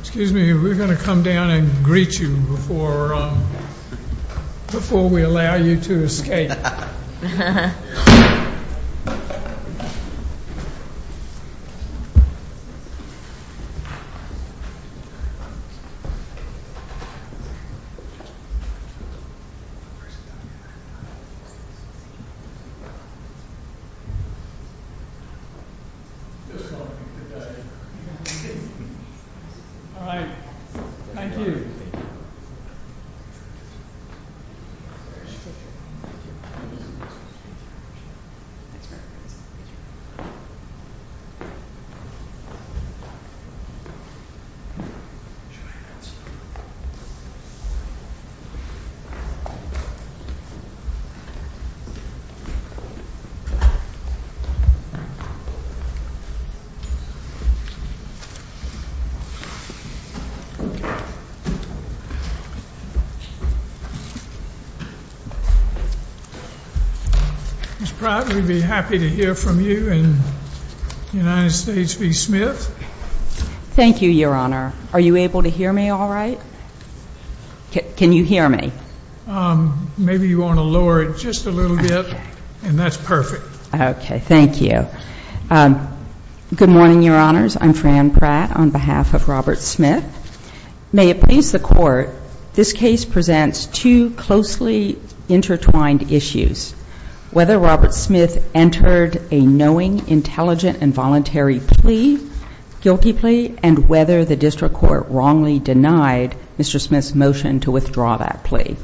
Excuse me, we're going to come down and greet you before we allow you to escape. Alright, thank you. Ms. Pratt, we'd be happy to hear from you in the United States v. Smith. Thank you, Your Honor. Are you able to hear me alright? Can you hear me? Maybe you want to lower it just a little bit, and that's perfect. Okay, thank you. Good morning, Your Honors. I'm Fran Pratt on behalf of Robert Smith. May it please the Court, this case presents two closely intertwined issues. Whether Robert Smith entered a knowing, intelligent, and voluntary plea, guilty plea, and whether the district court wrongly denied Mr. Smith's motion to withdraw that plea.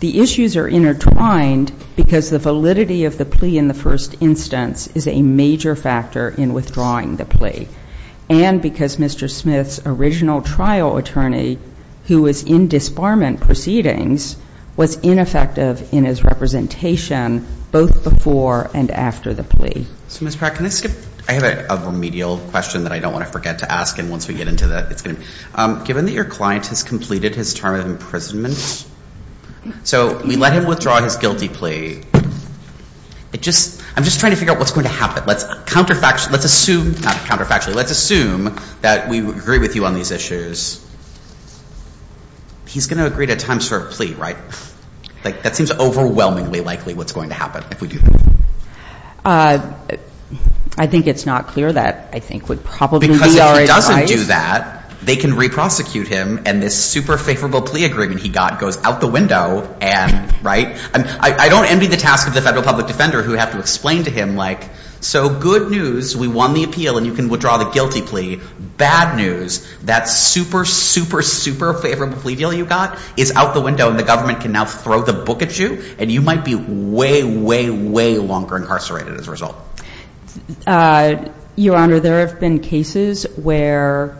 The issues are intertwined because the validity of the plea in the first instance is a major factor in withdrawing the plea. And because Mr. Smith's original trial attorney, who was in disbarment proceedings, was ineffective in his representation both before and after the plea. So, Ms. Pratt, can I skip? I have a remedial question that I don't want to forget to ask, and once we get into that, it's going to be. Given that your client has completed his term of imprisonment, so we let him withdraw his guilty plea, I'm just trying to figure out what's going to happen. Let's assume, not counterfactually, let's assume that we agree with you on these issues. He's going to agree to a time-served plea, right? That seems overwhelmingly likely what's going to happen if we do that. I think it's not clear that I think would probably be our advice. Because if he doesn't do that, they can re-prosecute him, and this super-favorable plea agreement he got goes out the window, right? I don't envy the task of the federal public defender who would have to explain to him, like, so, good news, we won the appeal, and you can withdraw the guilty plea. Bad news, that super, super, super favorable plea deal you got is out the window, and the government can now throw the book at you, and you might be way, way, way longer incarcerated as a result. Your Honor, there have been cases where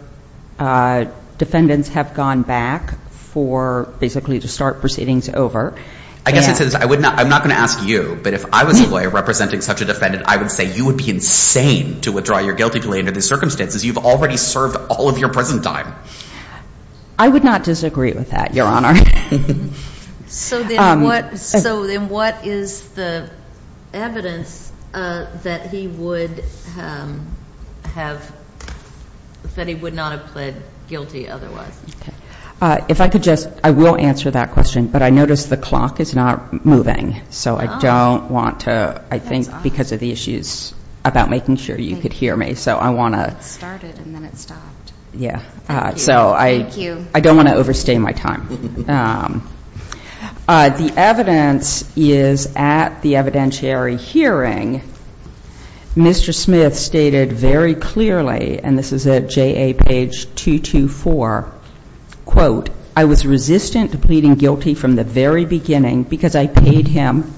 defendants have gone back for basically to start proceedings over. I guess I'm not going to ask you, but if I was a lawyer representing such a defendant, I would say you would be insane to withdraw your guilty plea under these circumstances. You've already served all of your prison time. I would not disagree with that, Your Honor. So then what is the evidence that he would have, that he would not have pled guilty otherwise? If I could just, I will answer that question, but I notice the clock is not moving. So I don't want to, I think because of the issues about making sure you could hear me, so I want to. It started and then it stopped. Yeah. So I don't want to overstay my time. The evidence is at the evidentiary hearing. Mr. Smith stated very clearly, and this is at JA page 224, quote, I was resistant to pleading guilty from the very beginning because I paid him,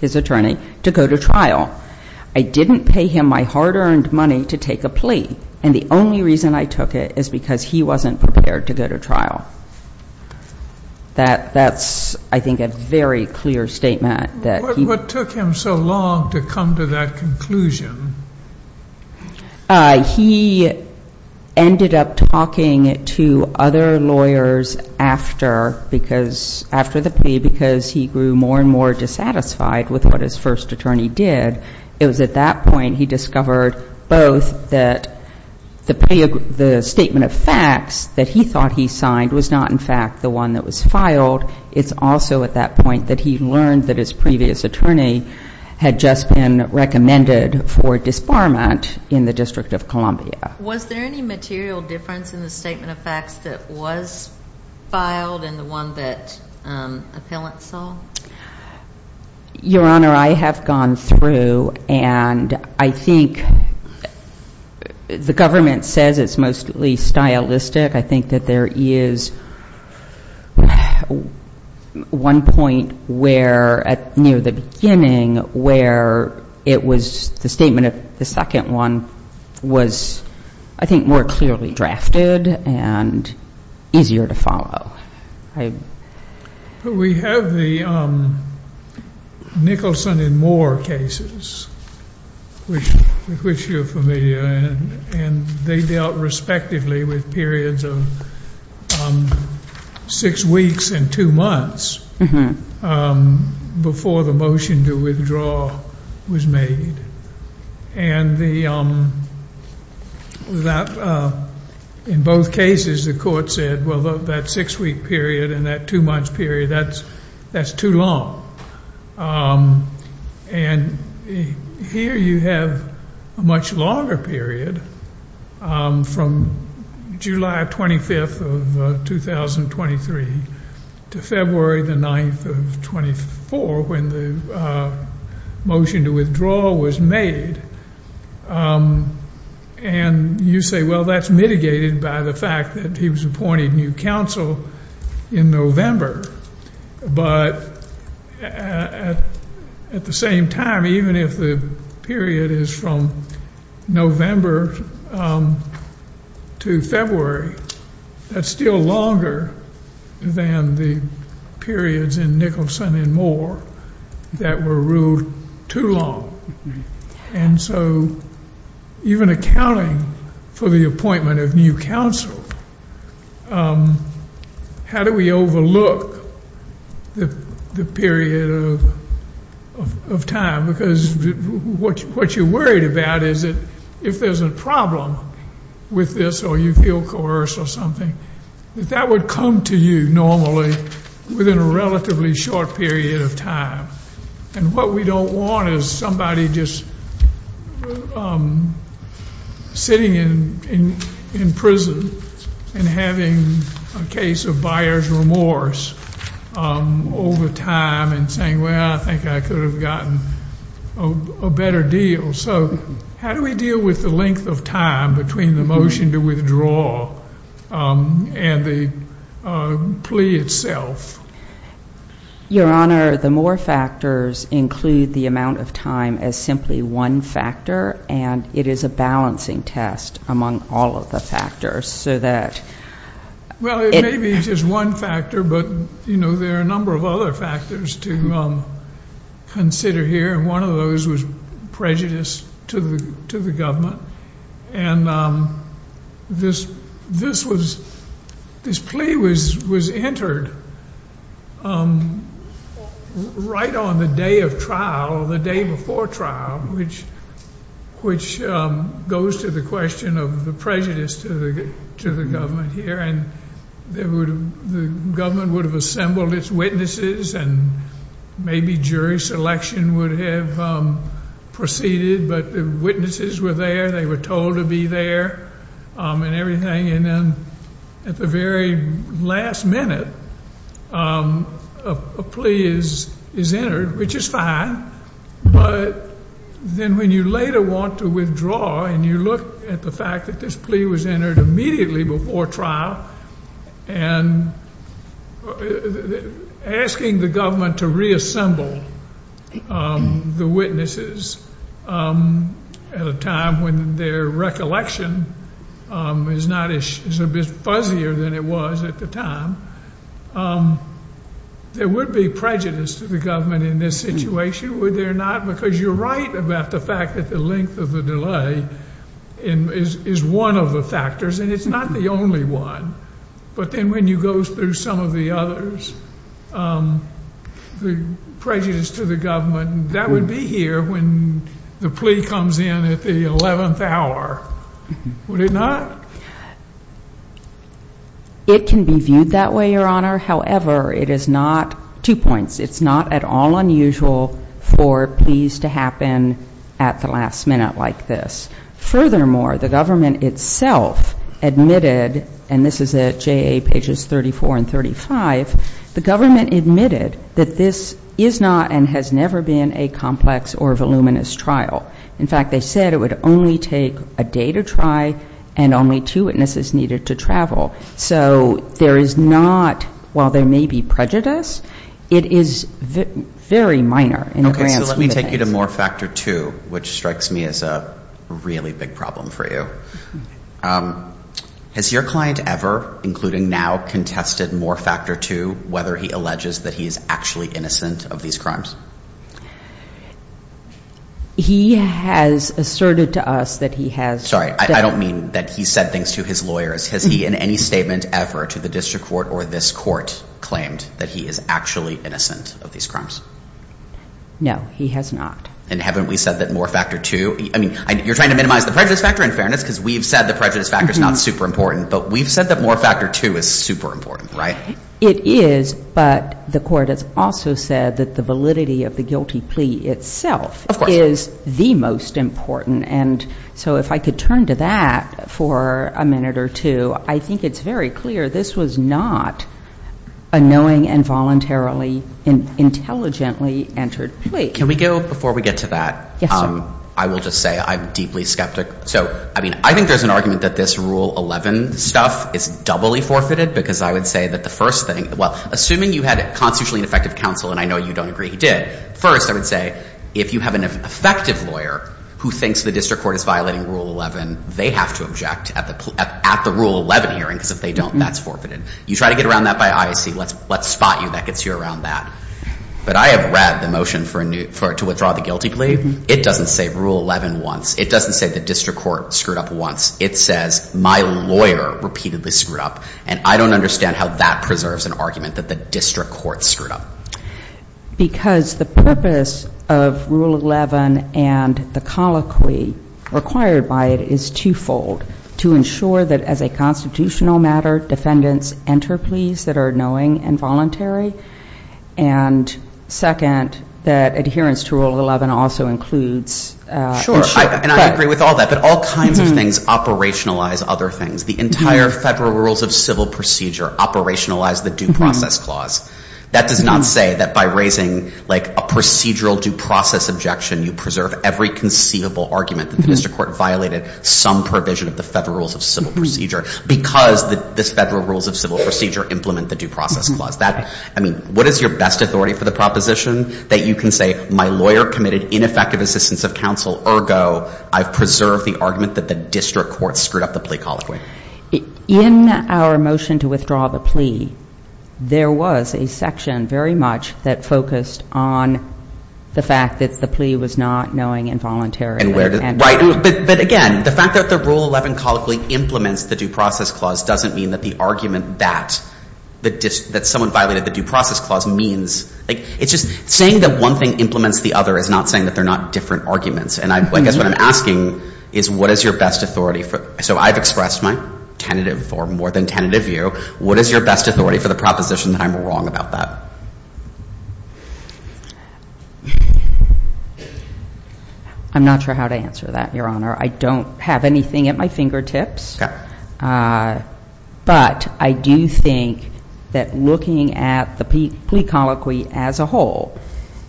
his attorney, to go to trial. I didn't pay him my hard-earned money to take a plea, and the only reason I took it is because he wasn't prepared to go to trial. That's, I think, a very clear statement. What took him so long to come to that conclusion? He ended up talking to other lawyers after because, after the plea, because he grew more and more dissatisfied with what his first attorney did. It was at that point he discovered both that the statement of facts that he thought he signed was not, in fact, the one that was filed. It's also at that point that he learned that his previous attorney had just been recommended for disbarment in the District of Columbia. Was there any material difference in the statement of facts that was filed and the one that appellant saw? Your Honor, I have gone through, and I think the government says it's mostly stylistic. I think that there is one point where, near the beginning, where it was the statement of the second one was, I think, more clearly drafted and easier to follow. We have the Nicholson and Moore cases, with which you're familiar, and they dealt respectively with periods of six weeks and two months before the motion to withdraw was made. In both cases, the court said, well, that six-week period and that two-month period, that's too long. And here you have a much longer period, from July 25th of 2023 to February 9th of 24, when the motion to withdraw was made. And you say, well, that's mitigated by the fact that he was appointed new counsel in November. But at the same time, even if the period is from November to February, that's still longer than the periods in Nicholson and Moore that were ruled too long. And so even accounting for the appointment of new counsel, how do we overlook the period of time? Because what you're worried about is that if there's a problem with this or you feel coerced or something, that that would come to you normally within a relatively short period of time. And what we don't want is somebody just sitting in prison and having a case of buyer's remorse over time and saying, well, I think I could have gotten a better deal. So how do we deal with the length of time between the motion to withdraw and the plea itself? Your Honor, the Moore factors include the amount of time as simply one factor, and it is a balancing test among all of the factors so that. Well, it may be just one factor, but there are a number of other factors to consider here. And one of those was prejudice to the government. And this plea was entered right on the day of trial or the day before trial, which goes to the question of the prejudice to the government here. And the government would have assembled its witnesses and maybe jury selection would have proceeded, but the witnesses were there. They were told to be there and everything. And then at the very last minute, a plea is entered, which is fine. But then when you later want to withdraw and you look at the fact that this plea was entered immediately before trial, and asking the government to reassemble the witnesses at a time when their recollection is a bit fuzzier than it was at the time, there would be prejudice to the government in this situation, would there not? Because you're right about the fact that the length of the delay is one of the factors, and it's not the only one. But then when you go through some of the others, the prejudice to the government, that would be here when the plea comes in at the 11th hour, would it not? It can be viewed that way, Your Honor. However, it is not, two points, it's not at all unusual for pleas to happen at the last minute like this. Furthermore, the government itself admitted, and this is at JA pages 34 and 35, the government admitted that this is not and has never been a complex or voluminous trial. In fact, they said it would only take a day to try and only two witnesses needed to travel. So there is not, while there may be prejudice, it is very minor in the grand scheme of things. Okay, so let me take you to Moore Factor 2, which strikes me as a really big problem for you. Has your client ever, including now, contested Moore Factor 2, whether he alleges that he is actually innocent of these crimes? He has asserted to us that he has. Sorry, I don't mean that he said things to his lawyers. Has he in any statement ever to the district court or this court claimed that he is actually innocent of these crimes? No, he has not. And haven't we said that Moore Factor 2, I mean, you're trying to minimize the prejudice factor, in fairness, because we've said the prejudice factor is not super important, but we've said that Moore Factor 2 is super important, right? It is, but the court has also said that the validity of the guilty plea itself is the most important. And so if I could turn to that for a minute or two, I think it's very clear this was not a knowing and voluntarily intelligently entered plea. Wait, can we go before we get to that? Yes, sir. I will just say I'm deeply skeptic. So, I mean, I think there's an argument that this Rule 11 stuff is doubly forfeited, because I would say that the first thing, well, assuming you had a constitutionally effective counsel, and I know you don't agree he did, first I would say if you have an effective lawyer who thinks the district court is violating Rule 11, they have to object at the Rule 11 hearing, because if they don't, that's forfeited. You try to get around that by ISC, let's spot you, that gets you around that. But I have read the motion to withdraw the guilty plea. It doesn't say Rule 11 once. It doesn't say the district court screwed up once. It says my lawyer repeatedly screwed up, and I don't understand how that preserves an argument that the district court screwed up. Because the purpose of Rule 11 and the colloquy required by it is twofold, to ensure that as a constitutional matter defendants enter pleas that are knowing and voluntary, and second, that adherence to Rule 11 also includes ensuring. Sure, and I agree with all that, but all kinds of things operationalize other things. The entire Federal Rules of Civil Procedure operationalize the due process clause. That does not say that by raising, like, a procedural due process objection, you preserve every conceivable argument that the district court violated some provision of the Federal Rules of Civil Procedure because this Federal Rules of Civil Procedure implement the due process clause. That, I mean, what is your best authority for the proposition that you can say, my lawyer committed ineffective assistance of counsel, ergo, I've preserved the argument that the district court screwed up the plea colloquy? In our motion to withdraw the plea, there was a section very much that focused on the fact that the plea was not knowing and voluntary. Right, but again, the fact that the Rule 11 colloquy implements the due process clause doesn't mean that the argument that someone violated the due process clause means, like, it's just saying that one thing implements the other is not saying that they're not different arguments. And I guess what I'm asking is what is your best authority for, so I've expressed my tentative or more than tentative view, what is your best authority for the proposition that I'm wrong about that? I'm not sure how to answer that, Your Honor. I don't have anything at my fingertips. Okay. But I do think that looking at the plea colloquy as a whole,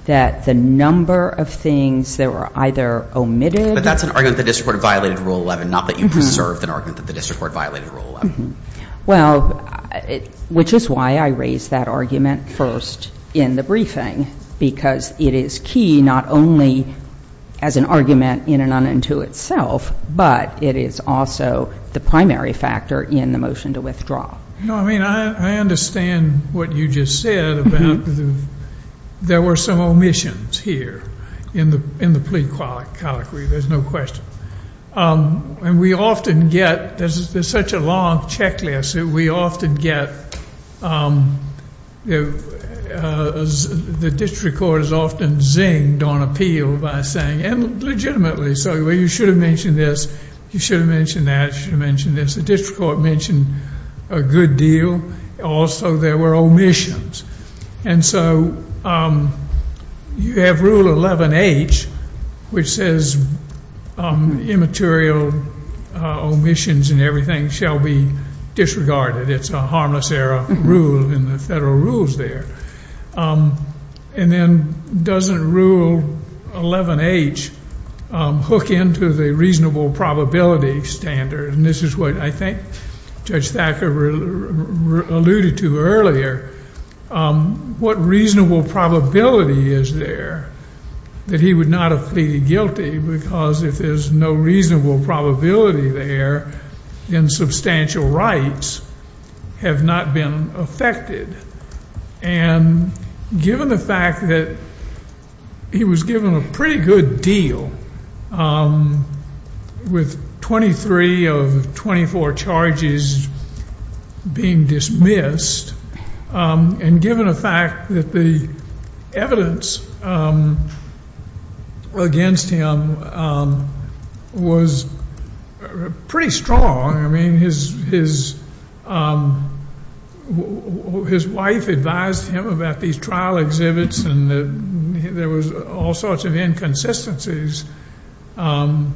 that the number of things that were either omitted. But that's an argument that the district court violated Rule 11, not that you preserved an argument that the district court violated Rule 11. Well, which is why I raised that argument first in the briefing, because it is key not only as an argument in and unto itself, but it is also the primary factor in the motion to withdraw. No, I mean, I understand what you just said about there were some omissions here in the plea colloquy, there's no question. And we often get, there's such a long checklist, we often get the district court is often zinged on appeal by saying, and legitimately, so you should have mentioned this, you should have mentioned that, you should have mentioned this. The district court mentioned a good deal. Also, there were omissions. And so you have Rule 11H, which says immaterial omissions and everything shall be disregarded. It's a harmless error rule in the federal rules there. And then doesn't Rule 11H hook into the reasonable probability standard? And this is what I think Judge Thacker alluded to earlier. What reasonable probability is there that he would not have pleaded guilty? Because if there's no reasonable probability there, then substantial rights have not been affected. And given the fact that he was given a pretty good deal with 23 of 24 charges being dismissed, and given the fact that the evidence against him was pretty strong, I mean, his wife advised him about these trial exhibits and there was all sorts of inconsistencies. And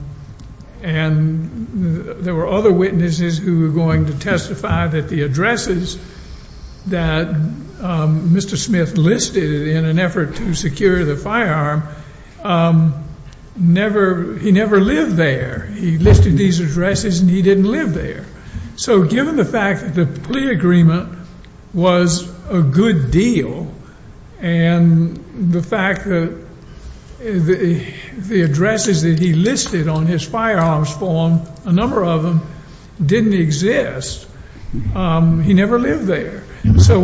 there were other witnesses who were going to testify that the addresses that Mr. Smith listed in an effort to secure the firearm, he never lived there. He listed these addresses and he didn't live there. So given the fact that the plea agreement was a good deal, and the fact that the addresses that he listed on his firearms form, a number of them, didn't exist, he never lived there. So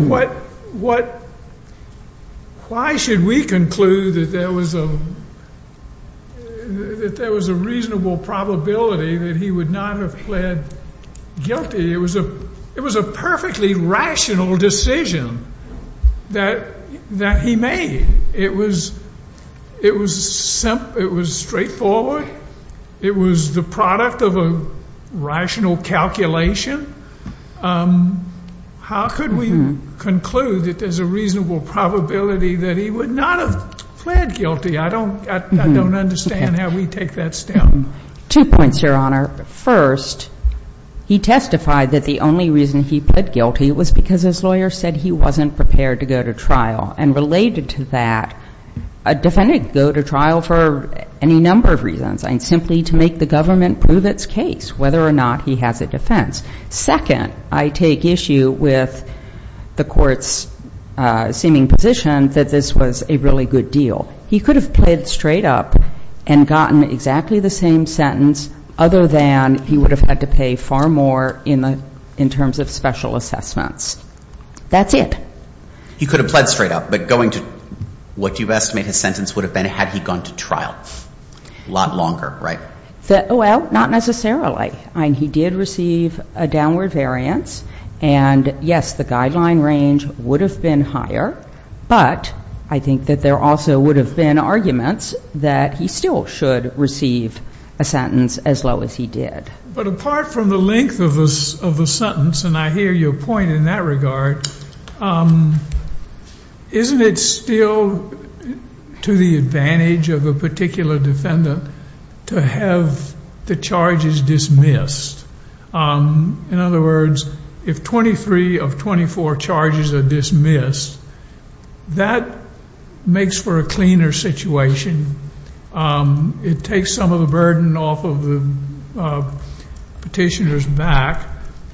why should we conclude that there was a reasonable probability that he would not have pled guilty? It was a perfectly rational decision that he made. It was straightforward. It was the product of a rational calculation. How could we conclude that there's a reasonable probability that he would not have pled guilty? I don't understand how we take that step. Two points, Your Honor. First, he testified that the only reason he pled guilty was because his lawyer said he wasn't prepared to go to trial. And related to that, a defendant could go to trial for any number of reasons, and simply to make the government prove its case whether or not he has a defense. Second, I take issue with the Court's seeming position that this was a really good deal. He could have pled straight up and gotten exactly the same sentence, other than he would have had to pay far more in terms of special assessments. That's it. He could have pled straight up, but going to what you estimate his sentence would have been had he gone to trial? A lot longer, right? Well, not necessarily. He did receive a downward variance. And, yes, the guideline range would have been higher, but I think that there also would have been arguments that he still should receive a sentence as low as he did. But apart from the length of the sentence, and I hear your point in that regard, isn't it still to the advantage of a particular defendant to have the charges dismissed? In other words, if 23 of 24 charges are dismissed, that makes for a cleaner situation. It takes some of the burden off of the petitioner's back,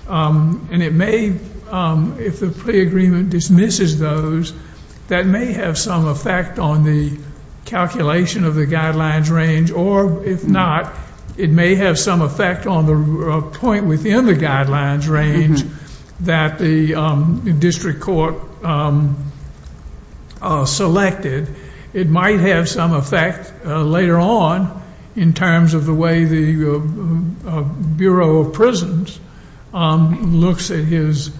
and it may, if the plea agreement dismisses those, that may have some effect on the calculation of the guidelines range, or if not, it may have some effect on the point within the guidelines range that the district court selected. It might have some effect later on in terms of the way the Bureau of Prisons looks at his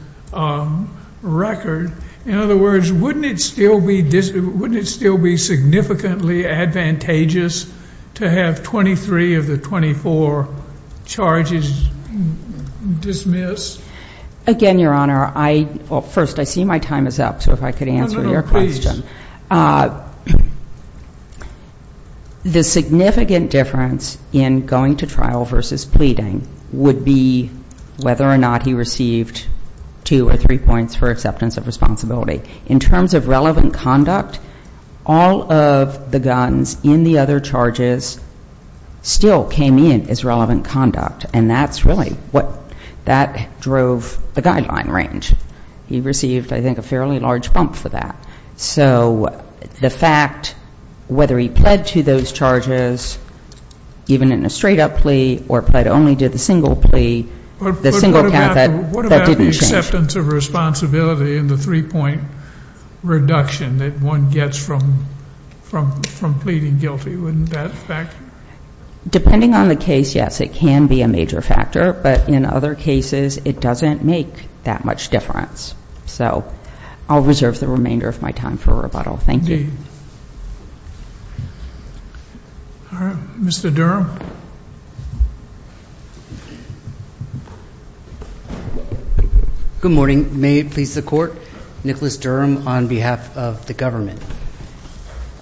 record. In other words, wouldn't it still be significantly advantageous to have 23 of the 24 charges dismissed? Again, Your Honor, first, I see my time is up, so if I could answer your question. The significant difference in going to trial versus pleading would be whether or not he received two or three points for acceptance of responsibility. In terms of relevant conduct, all of the guns in the other charges still came in as relevant conduct, and that's really what that drove the guideline range. He received, I think, a fairly large bump for that. So the fact, whether he pled to those charges, even in a straight-up plea, or pled only to the single plea, the single count, that didn't change. But what about the acceptance of responsibility and the three-point reduction that one gets from pleading guilty? Wouldn't that factor? Depending on the case, yes, it can be a major factor, but in other cases, it doesn't make that much difference. So I'll reserve the remainder of my time for rebuttal. Thank you. Mr. Durham. Good morning. May it please the Court, Nicholas Durham on behalf of the government.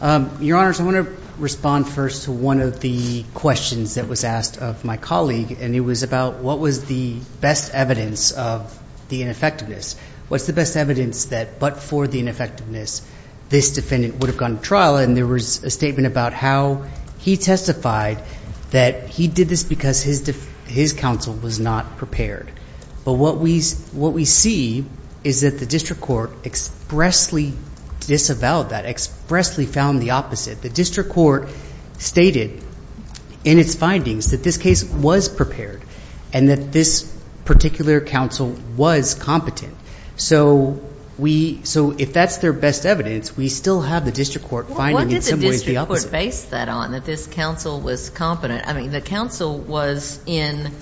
Your Honors, I want to respond first to one of the questions that was asked of my colleague, and it was about what was the best evidence of the ineffectiveness. What's the best evidence that but for the ineffectiveness, this defendant would have gone to trial? And there was a statement about how he testified that he did this because his counsel was not prepared. But what we see is that the district court expressly disavowed that, expressly found the opposite. The district court stated in its findings that this case was prepared and that this particular counsel was competent. So if that's their best evidence, we still have the district court finding in some ways the opposite. What did the district court base that on, that this counsel was competent? I mean, the counsel was in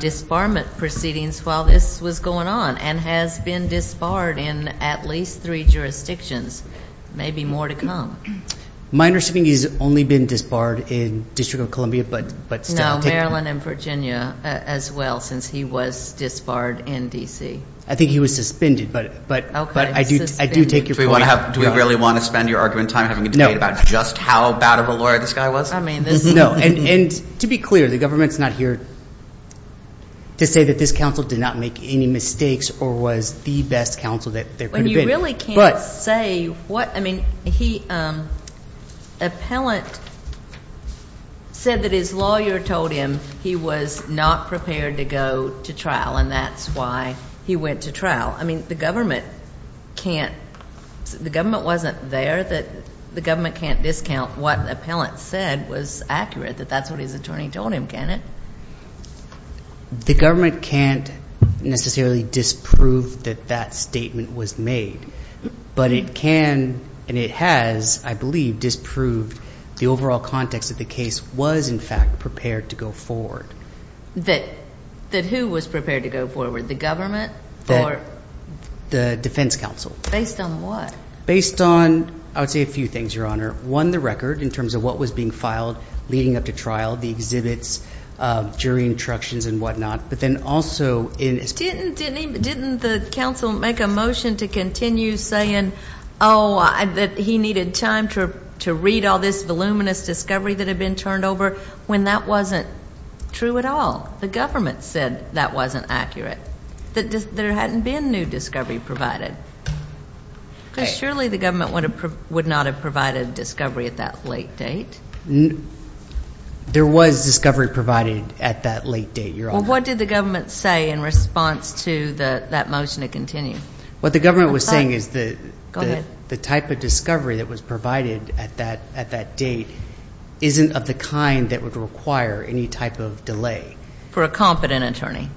disbarment proceedings while this was going on and has been disbarred in at least three jurisdictions, maybe more to come. My understanding is he's only been disbarred in the District of Columbia, but still. No, Maryland and Virginia as well, since he was disbarred in D.C. I think he was suspended, but I do take your point. Do we really want to spend your argument time having a debate about just how bad of a lawyer this guy was? No. And to be clear, the government's not here to say that this counsel did not make any mistakes or was the best counsel that there could have been. When you really can't say what, I mean, he, appellant said that his lawyer told him he was not prepared to go to trial, and that's why he went to trial. I mean, the government can't, the government wasn't there that, the government can't discount what appellant said was accurate, that that's what his attorney told him, can it? The government can't necessarily disprove that that statement was made, but it can, and it has, I believe, disproved the overall context that the case was, in fact, prepared to go forward. That who was prepared to go forward, the government? The defense counsel. Based on what? Based on, I would say, a few things, Your Honor. One, the record in terms of what was being filed leading up to trial, the exhibits, jury instructions and whatnot, but then also in. Didn't the counsel make a motion to continue saying, oh, that he needed time to read all this voluminous discovery that had been turned over when that wasn't true at all? The government said that wasn't accurate. That there hadn't been new discovery provided. Because surely the government would not have provided discovery at that late date. There was discovery provided at that late date, Your Honor. Well, what did the government say in response to that motion to continue? What the government was saying is the type of discovery that was provided at that date isn't of the kind that would require any type of delay. For a competent attorney.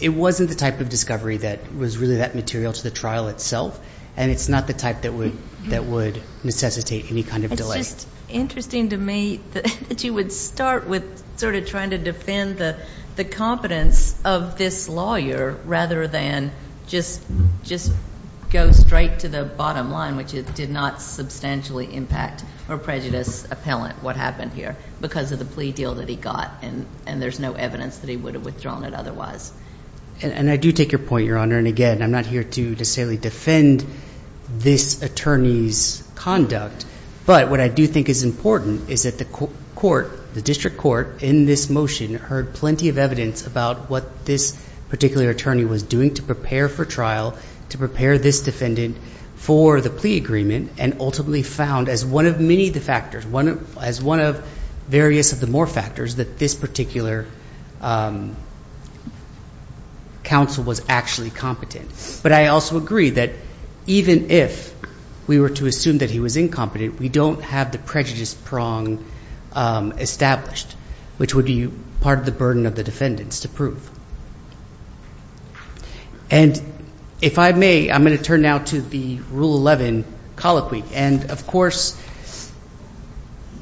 It wasn't the type of discovery that was really that material to the trial itself, and it's not the type that would necessitate any kind of delay. It's just interesting to me that you would start with sort of trying to defend the competence of this lawyer rather than just go straight to the bottom line, which it did not substantially impact or prejudice appellant what happened here because of the plea deal that he got, and there's no evidence that he would have withdrawn it otherwise. And I do take your point, Your Honor, and again, I'm not here to necessarily defend this attorney's conduct, but what I do think is important is that the court, the district court, in this motion, heard plenty of evidence about what this particular attorney was doing to prepare for trial, to prepare this defendant for the plea agreement, and ultimately found as one of many of the factors, as one of various of the more factors, that this particular counsel was actually competent. But I also agree that even if we were to assume that he was incompetent, we don't have the prejudice prong established, which would be part of the burden of the defendants to prove. And if I may, I'm going to turn now to the Rule 11 colloquy. And, of course,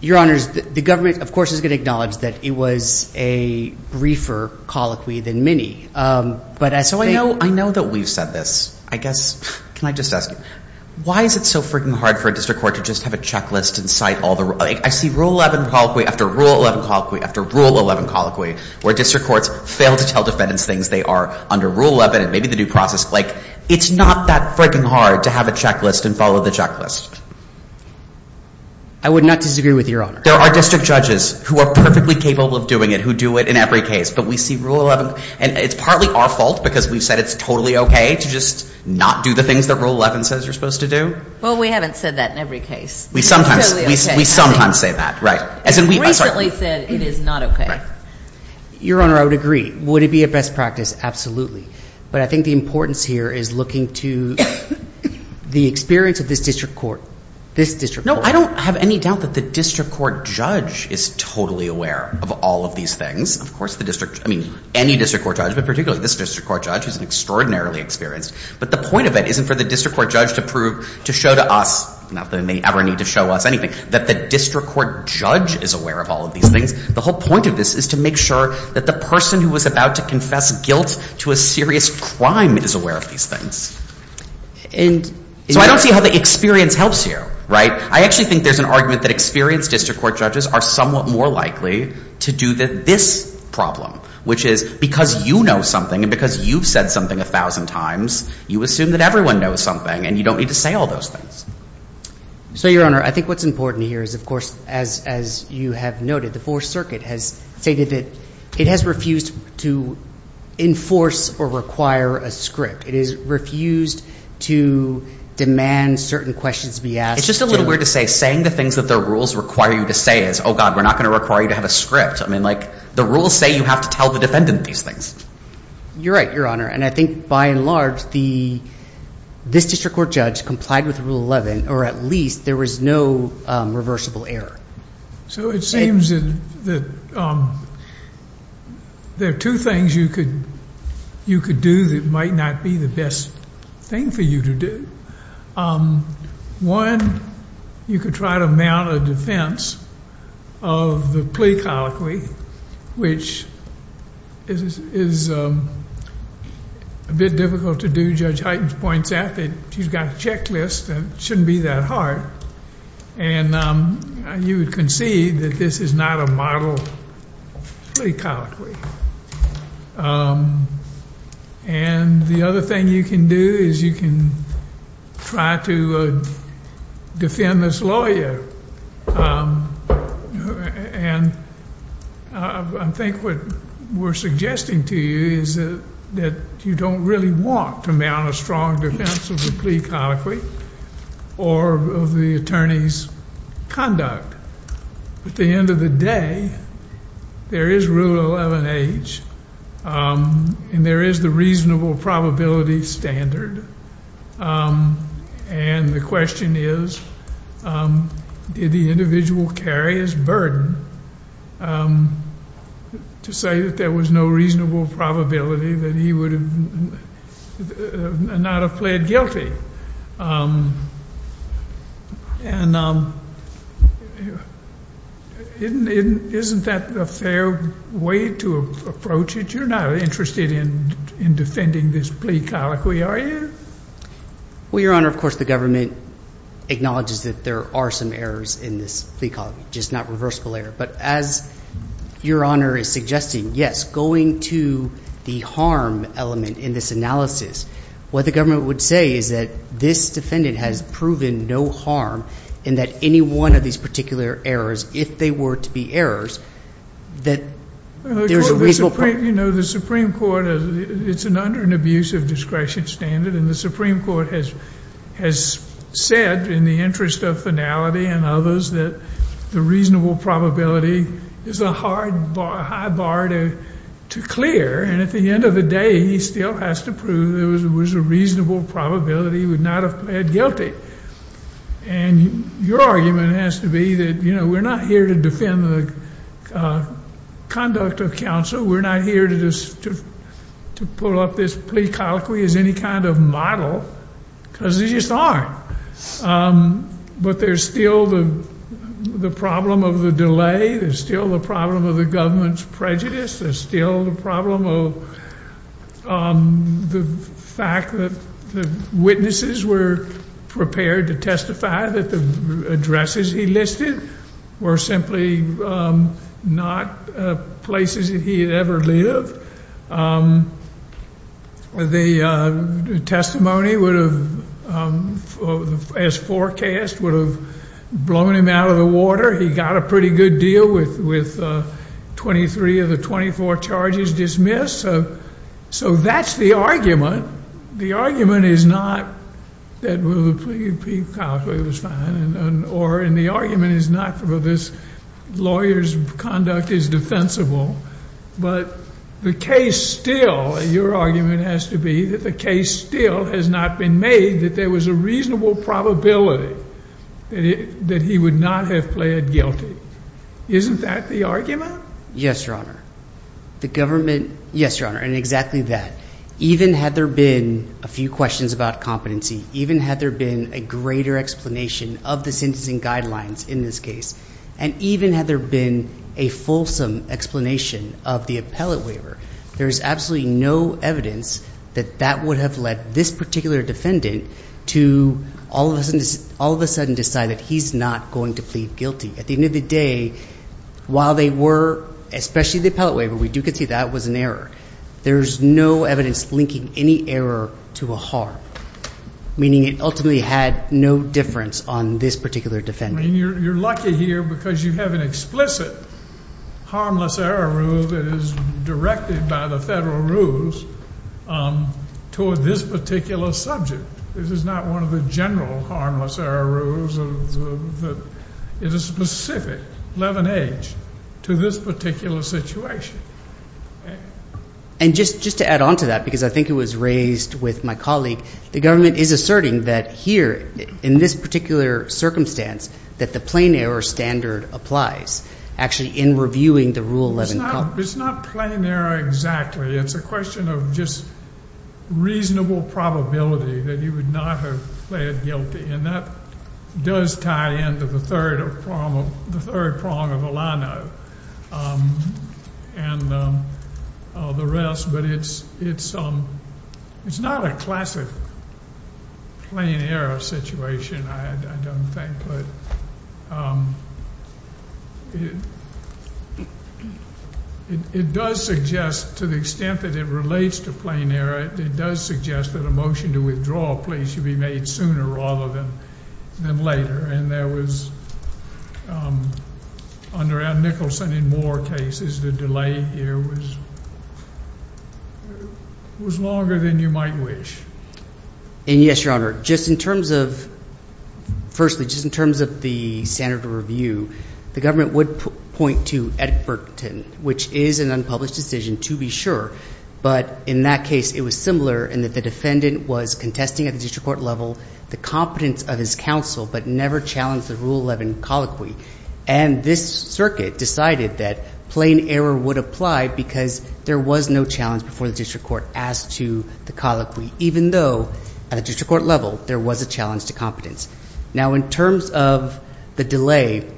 Your Honor, the government, of course, is going to acknowledge that it was a briefer colloquy than many. So I know that we've said this. I guess, can I just ask you, why is it so freaking hard for a district court to just have a checklist and cite all the rules? I see Rule 11 colloquy after Rule 11 colloquy after Rule 11 colloquy, where district courts fail to tell defendants things they are under Rule 11 and maybe the due process. Like, it's not that freaking hard to have a checklist and follow the checklist. I would not disagree with Your Honor. There are district judges who are perfectly capable of doing it, who do it in every case. But we see Rule 11, and it's partly our fault because we've said it's totally okay to just not do the things that Rule 11 says you're supposed to do. Well, we haven't said that in every case. We sometimes say that, right. We recently said it is not okay. Your Honor, I would agree. Would it be a best practice? Absolutely. But I think the importance here is looking to the experience of this district court, this district court. No, I don't have any doubt that the district court judge is totally aware of all of these things. Of course, the district, I mean, any district court judge, but particularly this district court judge, who's extraordinarily experienced. But the point of it isn't for the district court judge to prove, to show to us, not that they ever need to show us anything, that the district court judge is aware of all of these things. The whole point of this is to make sure that the person who was about to confess guilt to a serious crime is aware of these things. So I don't see how the experience helps you, right. I actually think there's an argument that experienced district court judges are somewhat more likely to do this problem, which is because you know something and because you've said something a thousand times, you assume that everyone knows something and you don't need to say all those things. So, Your Honor, I think what's important here is, of course, as you have noted, the Fourth Circuit has stated that it has refused to enforce or require a script. It has refused to demand certain questions be asked. It's just a little weird to say saying the things that the rules require you to say is, oh, God, we're not going to require you to have a script. I mean, like the rules say you have to tell the defendant these things. You're right, Your Honor, and I think by and large this district court judge complied with Rule 11, or at least there was no reversible error. So it seems that there are two things you could do that might not be the best thing for you to do. One, you could try to mount a defense of the plea colloquy, which is a bit difficult to do. Judge Hyten points out that she's got a checklist and it shouldn't be that hard. And you would concede that this is not a model plea colloquy. And the other thing you can do is you can try to defend this lawyer. And I think what we're suggesting to you is that you don't really want to mount a strong defense of the plea colloquy or of the attorney's conduct. At the end of the day, there is Rule 11H, and there is the reasonable probability standard. And the question is, did the individual carry his burden to say that there was no reasonable probability that he would not have pled guilty? And isn't that a fair way to approach it? You're not interested in defending this plea colloquy, are you? Well, Your Honor, of course the government acknowledges that there are some errors in this plea colloquy, just not reversible error. But as Your Honor is suggesting, yes, going to the harm element in this analysis, what the government would say is that this defendant has proven no harm and that any one of these particular errors, if they were to be errors, that there's a reasonable probability. You know, the Supreme Court, it's under an abusive discretion standard, and the Supreme Court has said in the interest of finality and others that the reasonable probability is a high bar to clear. And at the end of the day, he still has to prove there was a reasonable probability he would not have pled guilty. And your argument has to be that, you know, we're not here to defend the conduct of counsel. We're not here to pull up this plea colloquy as any kind of model, because they just aren't. But there's still the problem of the delay. There's still the problem of the government's prejudice. There's still the problem of the fact that the witnesses were prepared to testify that the addresses he listed were simply not places that he had ever lived. The testimony would have, as forecast, would have blown him out of the water. He got a pretty good deal with 23 of the 24 charges dismissed. So that's the argument. The argument is not that the plea colloquy was fine, or the argument is not that this lawyer's conduct is defensible. But the case still, your argument has to be that the case still has not been made that there was a reasonable probability that he would not have pled guilty. Isn't that the argument? Yes, Your Honor. The government, yes, Your Honor, and exactly that. Even had there been a few questions about competency, even had there been a greater explanation of the sentencing guidelines in this case, and even had there been a fulsome explanation of the appellate waiver, there's absolutely no evidence that that would have led this particular defendant to all of a sudden decide that he's not going to plead guilty. At the end of the day, while they were, especially the appellate waiver, we do concede that was an error. There's no evidence linking any error to a harm, meaning it ultimately had no difference on this particular defendant. I mean, you're lucky here because you have an explicit harmless error rule that is directed by the federal rules toward this particular subject. This is not one of the general harmless error rules. It is specific, 11H, to this particular situation. And just to add on to that, because I think it was raised with my colleague, the government is asserting that here in this particular circumstance that the plain error standard applies actually in reviewing the Rule 11. It's not plain error exactly. It's a question of just reasonable probability that he would not have pled guilty, and that does tie into the third prong of Alano. And the rest, but it's not a classic plain error situation, I don't think. But it does suggest, to the extent that it relates to plain error, it does suggest that a motion to withdraw a plea should be made sooner rather than later. And there was, under Al Nicholson in more cases, the delay here was longer than you might wish. And yes, Your Honor, just in terms of, firstly, just in terms of the standard of review, the government would point to Edgberton, which is an unpublished decision, to be sure. But in that case, it was similar in that the defendant was contesting at the district court level the competence of his counsel but never challenged the Rule 11 colloquy. And this circuit decided that plain error would apply because there was no challenge before the district court as to the colloquy, even though at a district court level there was a challenge to competence. Now, in terms of the delay,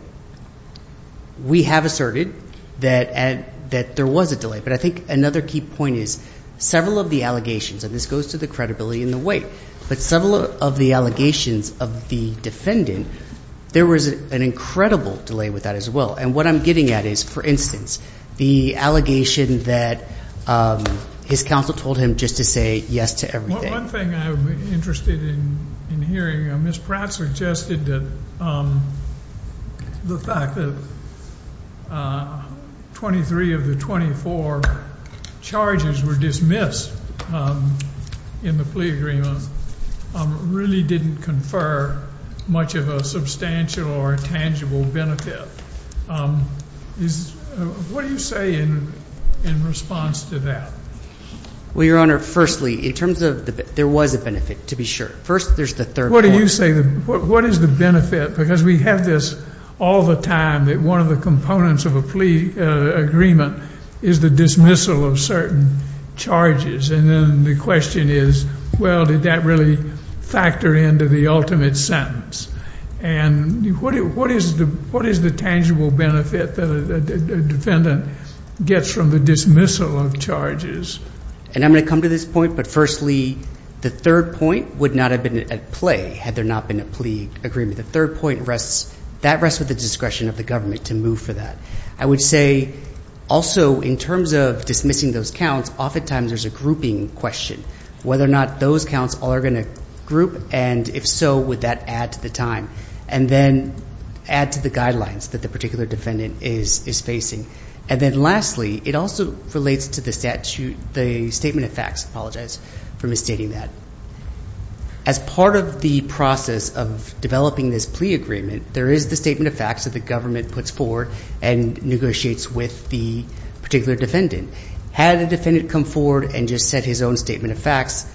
we have asserted that there was a delay. But I think another key point is several of the allegations, and this goes to the credibility and the weight, but several of the allegations of the defendant, there was an incredible delay with that as well. And what I'm getting at is, for instance, the allegation that his counsel told him just to say yes to everything. One thing I'm interested in hearing, Ms. Pratt suggested that the fact that 23 of the 24 charges were dismissed in the plea agreement really didn't confer much of a substantial or tangible benefit. What do you say in response to that? Well, Your Honor, firstly, in terms of there was a benefit, to be sure. First, there's the third point. What do you say? What is the benefit? Because we have this all the time that one of the components of a plea agreement is the dismissal of certain charges. And then the question is, well, did that really factor into the ultimate sentence? And what is the tangible benefit that a defendant gets from the dismissal of charges? And I'm going to come to this point, but firstly, the third point would not have been at play had there not been a plea agreement. The third point rests with the discretion of the government to move for that. I would say also in terms of dismissing those counts, oftentimes there's a grouping question, whether or not those counts are going to group, and if so, would that add to the time and then add to the guidelines that the particular defendant is facing. And then lastly, it also relates to the Statement of Facts. I apologize for misstating that. As part of the process of developing this plea agreement, there is the Statement of Facts that the government puts forward and negotiates with the particular defendant. Had a defendant come forward and just said his own Statement of Facts,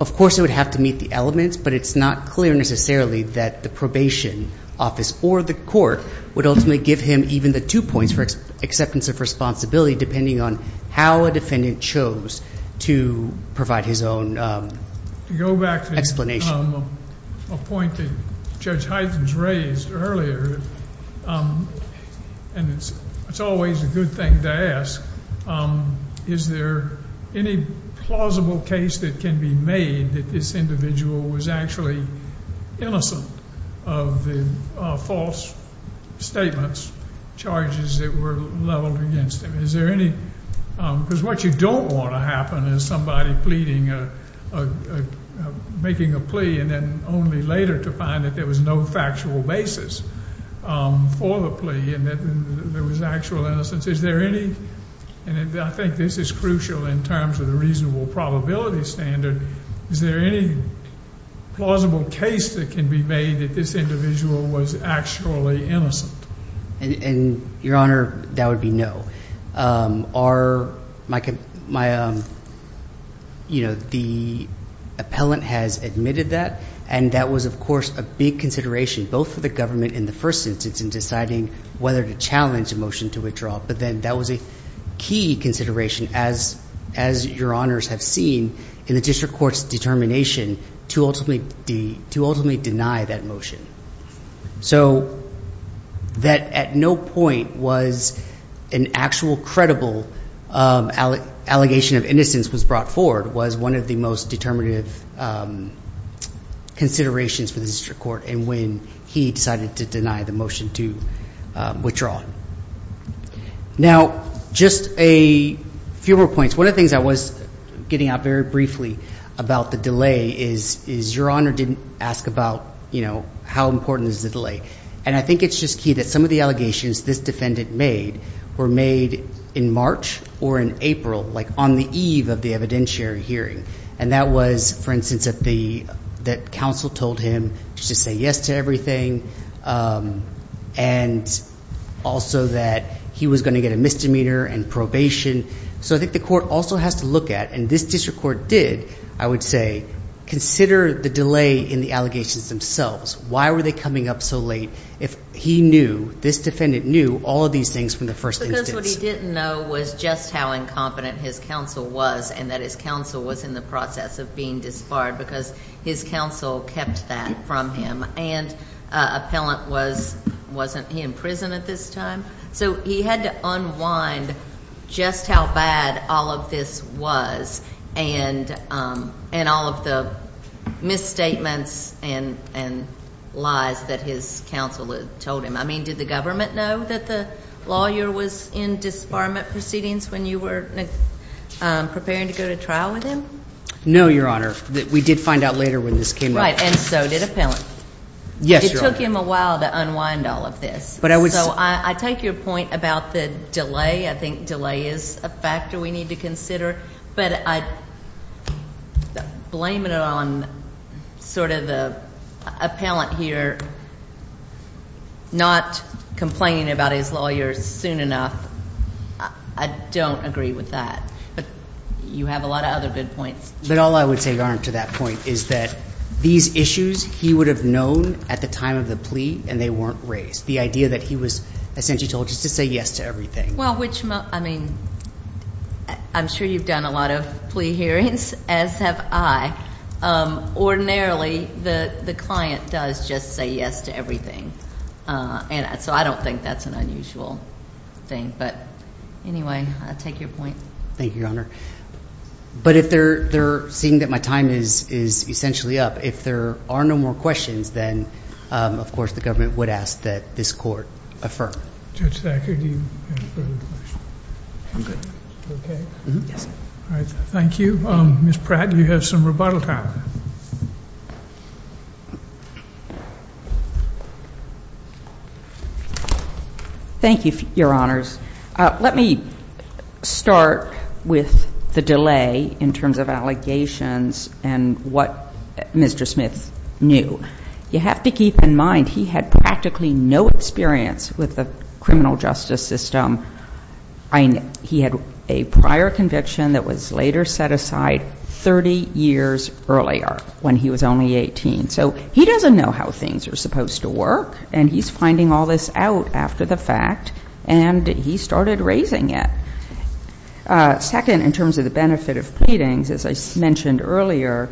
of course it would have to meet the elements, but it's not clear necessarily that the probation office or the court would ultimately give him even the two points for acceptance of responsibility, depending on how a defendant chose to provide his own explanation. A point that Judge Hyten has raised earlier, and it's always a good thing to ask, is there any plausible case that can be made that this individual was actually innocent of the false statements, charges that were leveled against him? Because what you don't want to happen is somebody pleading, making a plea, and then only later to find that there was no factual basis for the plea and that there was actual innocence. Is there any, and I think this is crucial in terms of the reasonable probability standard, is there any plausible case that can be made that this individual was actually innocent? And, Your Honor, that would be no. Our, my, you know, the appellant has admitted that, and that was, of course, a big consideration, both for the government in the first instance in deciding whether to challenge a motion to withdraw, but then that was a key consideration, as Your Honors have seen, in the district court's determination to ultimately deny that motion. So that at no point was an actual credible allegation of innocence was brought forward was one of the most determinative considerations for the district court in when he decided to deny the motion to withdraw. Now, just a few more points. One of the things I was getting at very briefly about the delay is Your Honor didn't ask about, you know, how important is the delay. And I think it's just key that some of the allegations this defendant made were made in March or in April, like on the eve of the evidentiary hearing. And that was, for instance, that the, that counsel told him to say yes to everything and also that he was going to get a misdemeanor and probation. So I think the court also has to look at, and this district court did, I would say, consider the delay in the allegations themselves. Why were they coming up so late if he knew, this defendant knew, all of these things from the first instance? Because what he didn't know was just how incompetent his counsel was and that his counsel was in the process of being disbarred because his counsel kept that from him. And appellant was, wasn't he in prison at this time? So he had to unwind just how bad all of this was and all of the misstatements and lies that his counsel had told him. I mean, did the government know that the lawyer was in disbarment proceedings when you were preparing to go to trial with him? No, Your Honor. We did find out later when this came up. Right, and so did appellant. Yes, Your Honor. It took him a while to unwind all of this. But I would say. So I take your point about the delay. I think delay is a factor we need to consider. But I blame it on sort of the appellant here not complaining about his lawyer soon enough. I don't agree with that. But you have a lot of other good points. But all I would say, Your Honor, to that point is that these issues he would have known at the time of the plea and they weren't raised, the idea that he was essentially told just to say yes to everything. Well, I mean, I'm sure you've done a lot of plea hearings, as have I. Ordinarily, the client does just say yes to everything. So I don't think that's an unusual thing. But anyway, I take your point. Thank you, Your Honor. But if they're seeing that my time is essentially up, if there are no more questions, then, of course, the government would ask that this court affirm. Judge Thacker, do you have further questions? I'm good. Okay. All right. Thank you. Ms. Pratt, you have some rebuttal time. Thank you, Your Honors. Let me start with the delay in terms of allegations and what Mr. Smith knew. You have to keep in mind he had practically no experience with the criminal justice system. He had a prior conviction that was later set aside 30 years earlier when he was only 18. So he doesn't know how things are supposed to work. And he's finding all this out after the fact. And he started raising it. Second, in terms of the benefit of pleadings, as I mentioned earlier,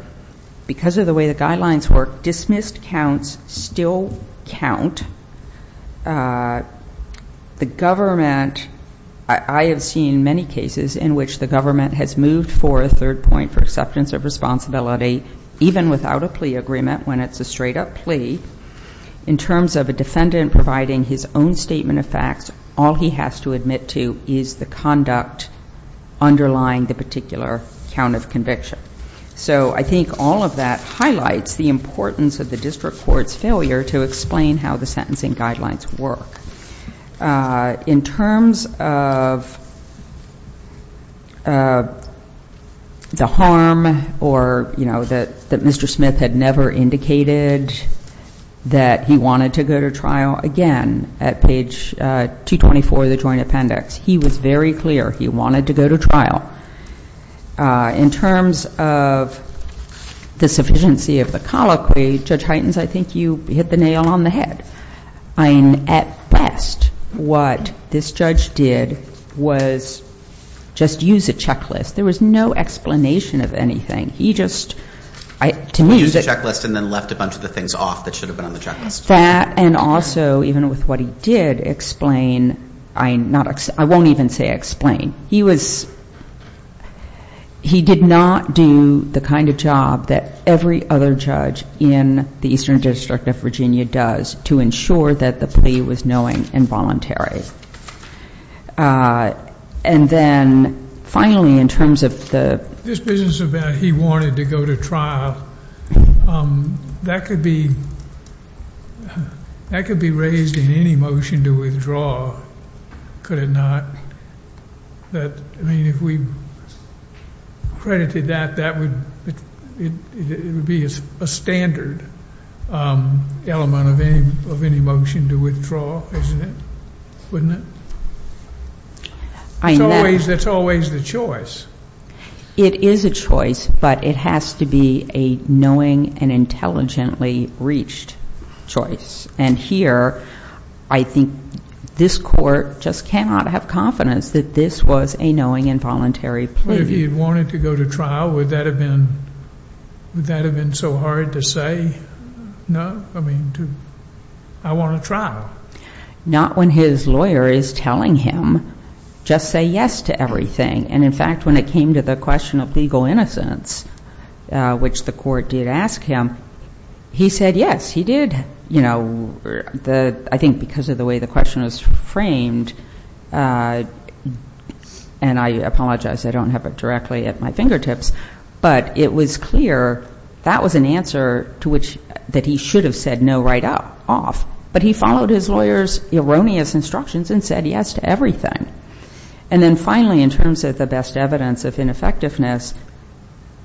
because of the way the guidelines work, dismissed counts still count. The government, I have seen many cases in which the government has moved for a third point for acceptance of responsibility, even without a plea agreement when it's a straight-up plea, in terms of a defendant providing his own statement of facts, all he has to admit to is the conduct underlying the particular count of conviction. So I think all of that highlights the importance of the district court's failure to explain how the sentencing guidelines work. In terms of the harm or, you know, that Mr. Smith had never indicated that he wanted to go to trial again at page 224 of the Joint Appendix, he was very clear he wanted to go to trial. In terms of the sufficiency of the colloquy, Judge Hytens, I think you hit the nail on the head. I mean, at best, what this judge did was just use a checklist. There was no explanation of anything. He just, to me, used a checklist and then left a bunch of the things off that should have been on the checklist. That and also, even with what he did explain, I won't even say explain. He did not do the kind of job that every other judge in the Eastern District of Virginia does to ensure that the plea was knowing and voluntary. And then, finally, in terms of the- This business about he wanted to go to trial, that could be raised in any motion to withdraw, could it not? I mean, if we credited that, that would be a standard element of any motion to withdraw, isn't it? Wouldn't it? That's always the choice. It is a choice, but it has to be a knowing and intelligently reached choice. And here, I think this court just cannot have confidence that this was a knowing and voluntary plea. But if he had wanted to go to trial, would that have been so hard to say, no? I mean, I want a trial. Not when his lawyer is telling him, just say yes to everything. And, in fact, when it came to the question of legal innocence, which the court did ask him, he said yes. He did, you know, I think because of the way the question was framed. And I apologize, I don't have it directly at my fingertips. But it was clear that was an answer to which that he should have said no right off. But he followed his lawyer's erroneous instructions and said yes to everything. And then finally, in terms of the best evidence of ineffectiveness,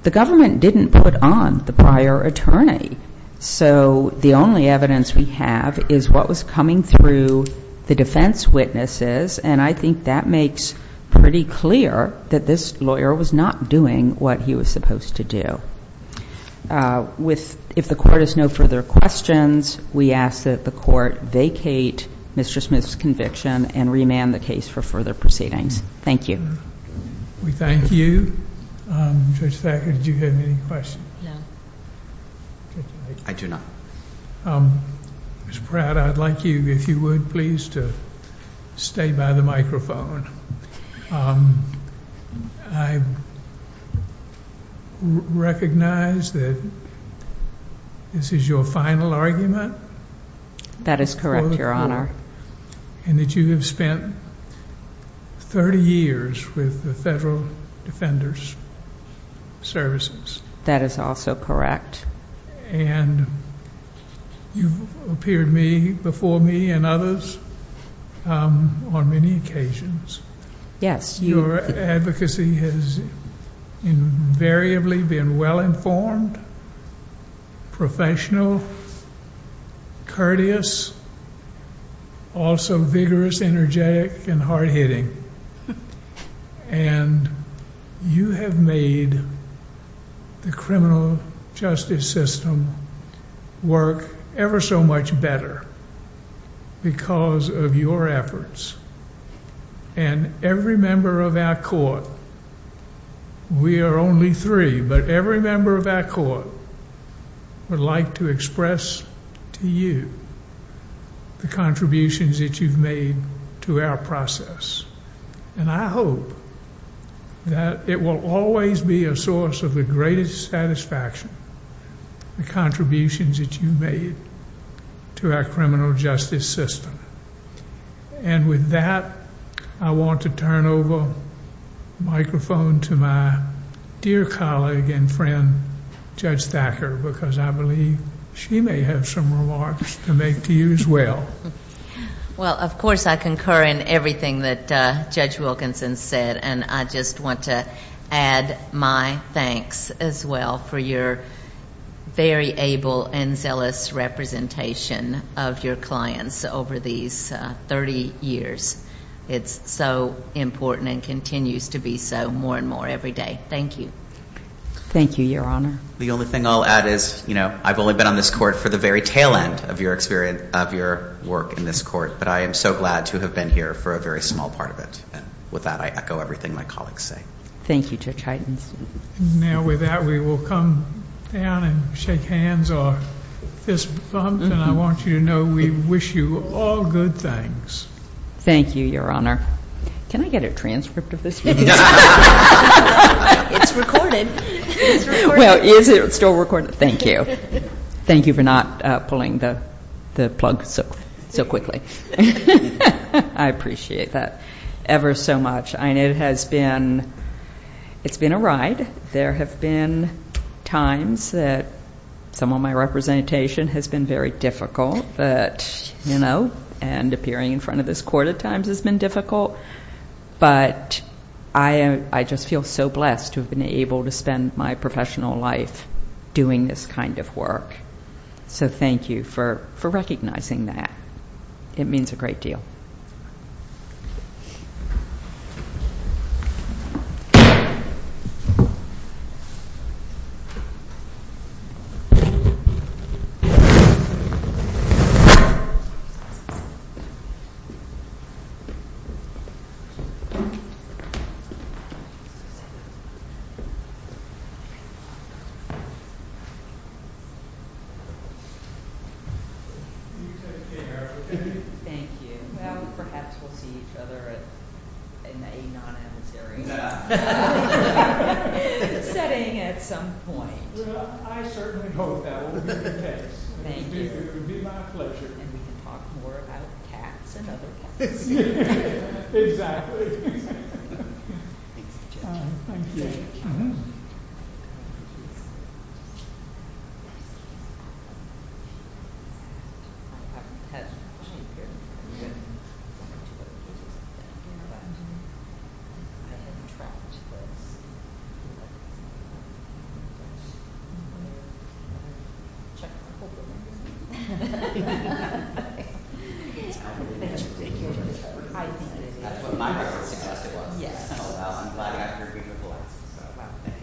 the government didn't put on the prior attorney. So the only evidence we have is what was coming through the defense witnesses, and I think that makes pretty clear that this lawyer was not doing what he was supposed to do. If the court has no further questions, we ask that the court vacate Mr. Smith's conviction and remand the case for further proceedings. Thank you. We thank you. Judge Thacker, did you have any questions? No. I do not. Ms. Pratt, I'd like you, if you would please, to stay by the microphone. I recognize that this is your final argument? That is correct, Your Honor. And that you have spent thirty years with the Federal Defender's Services? That is also correct. And you've appeared before me and others on many occasions. Yes. Your advocacy has invariably been well-informed, professional, courteous, also vigorous, energetic, and hard-hitting. And you have made the criminal justice system work ever so much better because of your efforts. And every member of our court, we are only three, but every member of our court would like to express to you the contributions that you've made to our process. And I hope that it will always be a source of the greatest satisfaction, the contributions that you've made to our criminal justice system. And with that, I want to turn over the microphone to my dear colleague and friend, Judge Thacker, because I believe she may have some remarks to make to you as well. Well, of course, I concur in everything that Judge Wilkinson said, and I just want to add my thanks as well for your very able and zealous representation of your clients over these thirty years. It's so important and continues to be so more and more every day. Thank you. Thank you, Your Honor. The only thing I'll add is, you know, I've only been on this court for the very tail end of your work in this court, but I am so glad to have been here for a very small part of it. And with that, I echo everything my colleagues say. Thank you, Judge Heidenstein. Now, with that, we will come down and shake hands or fist bumps, and I want you to know we wish you all good things. Thank you, Your Honor. Can I get a transcript of this? It's recorded. Well, is it still recorded? Thank you. Thank you for not pulling the plug so quickly. I appreciate that ever so much. I know it has been a ride. There have been times that some of my representation has been very difficult, you know, and appearing in front of this court at times has been difficult, but I just feel so blessed to have been able to spend my professional life doing this kind of work. So thank you for recognizing that. It means a great deal. You take care, okay? Thank you. Well, perhaps we'll see each other in a non-adversary setting at some point. Well, I certainly hope that will be the case. Thank you. It would be my pleasure. And we can talk more about cats and other cats. Exactly. Thanks, Judge. Thank you. I haven't had a chance to hear from you in a long time. Thank you. I hadn't tracked this. Chuck, hold the mic. Okay. Thank you. That's what my record suggested was. Yes. Well, I'm glad to have your beautiful voice. Thank you. Thank you. Thank you.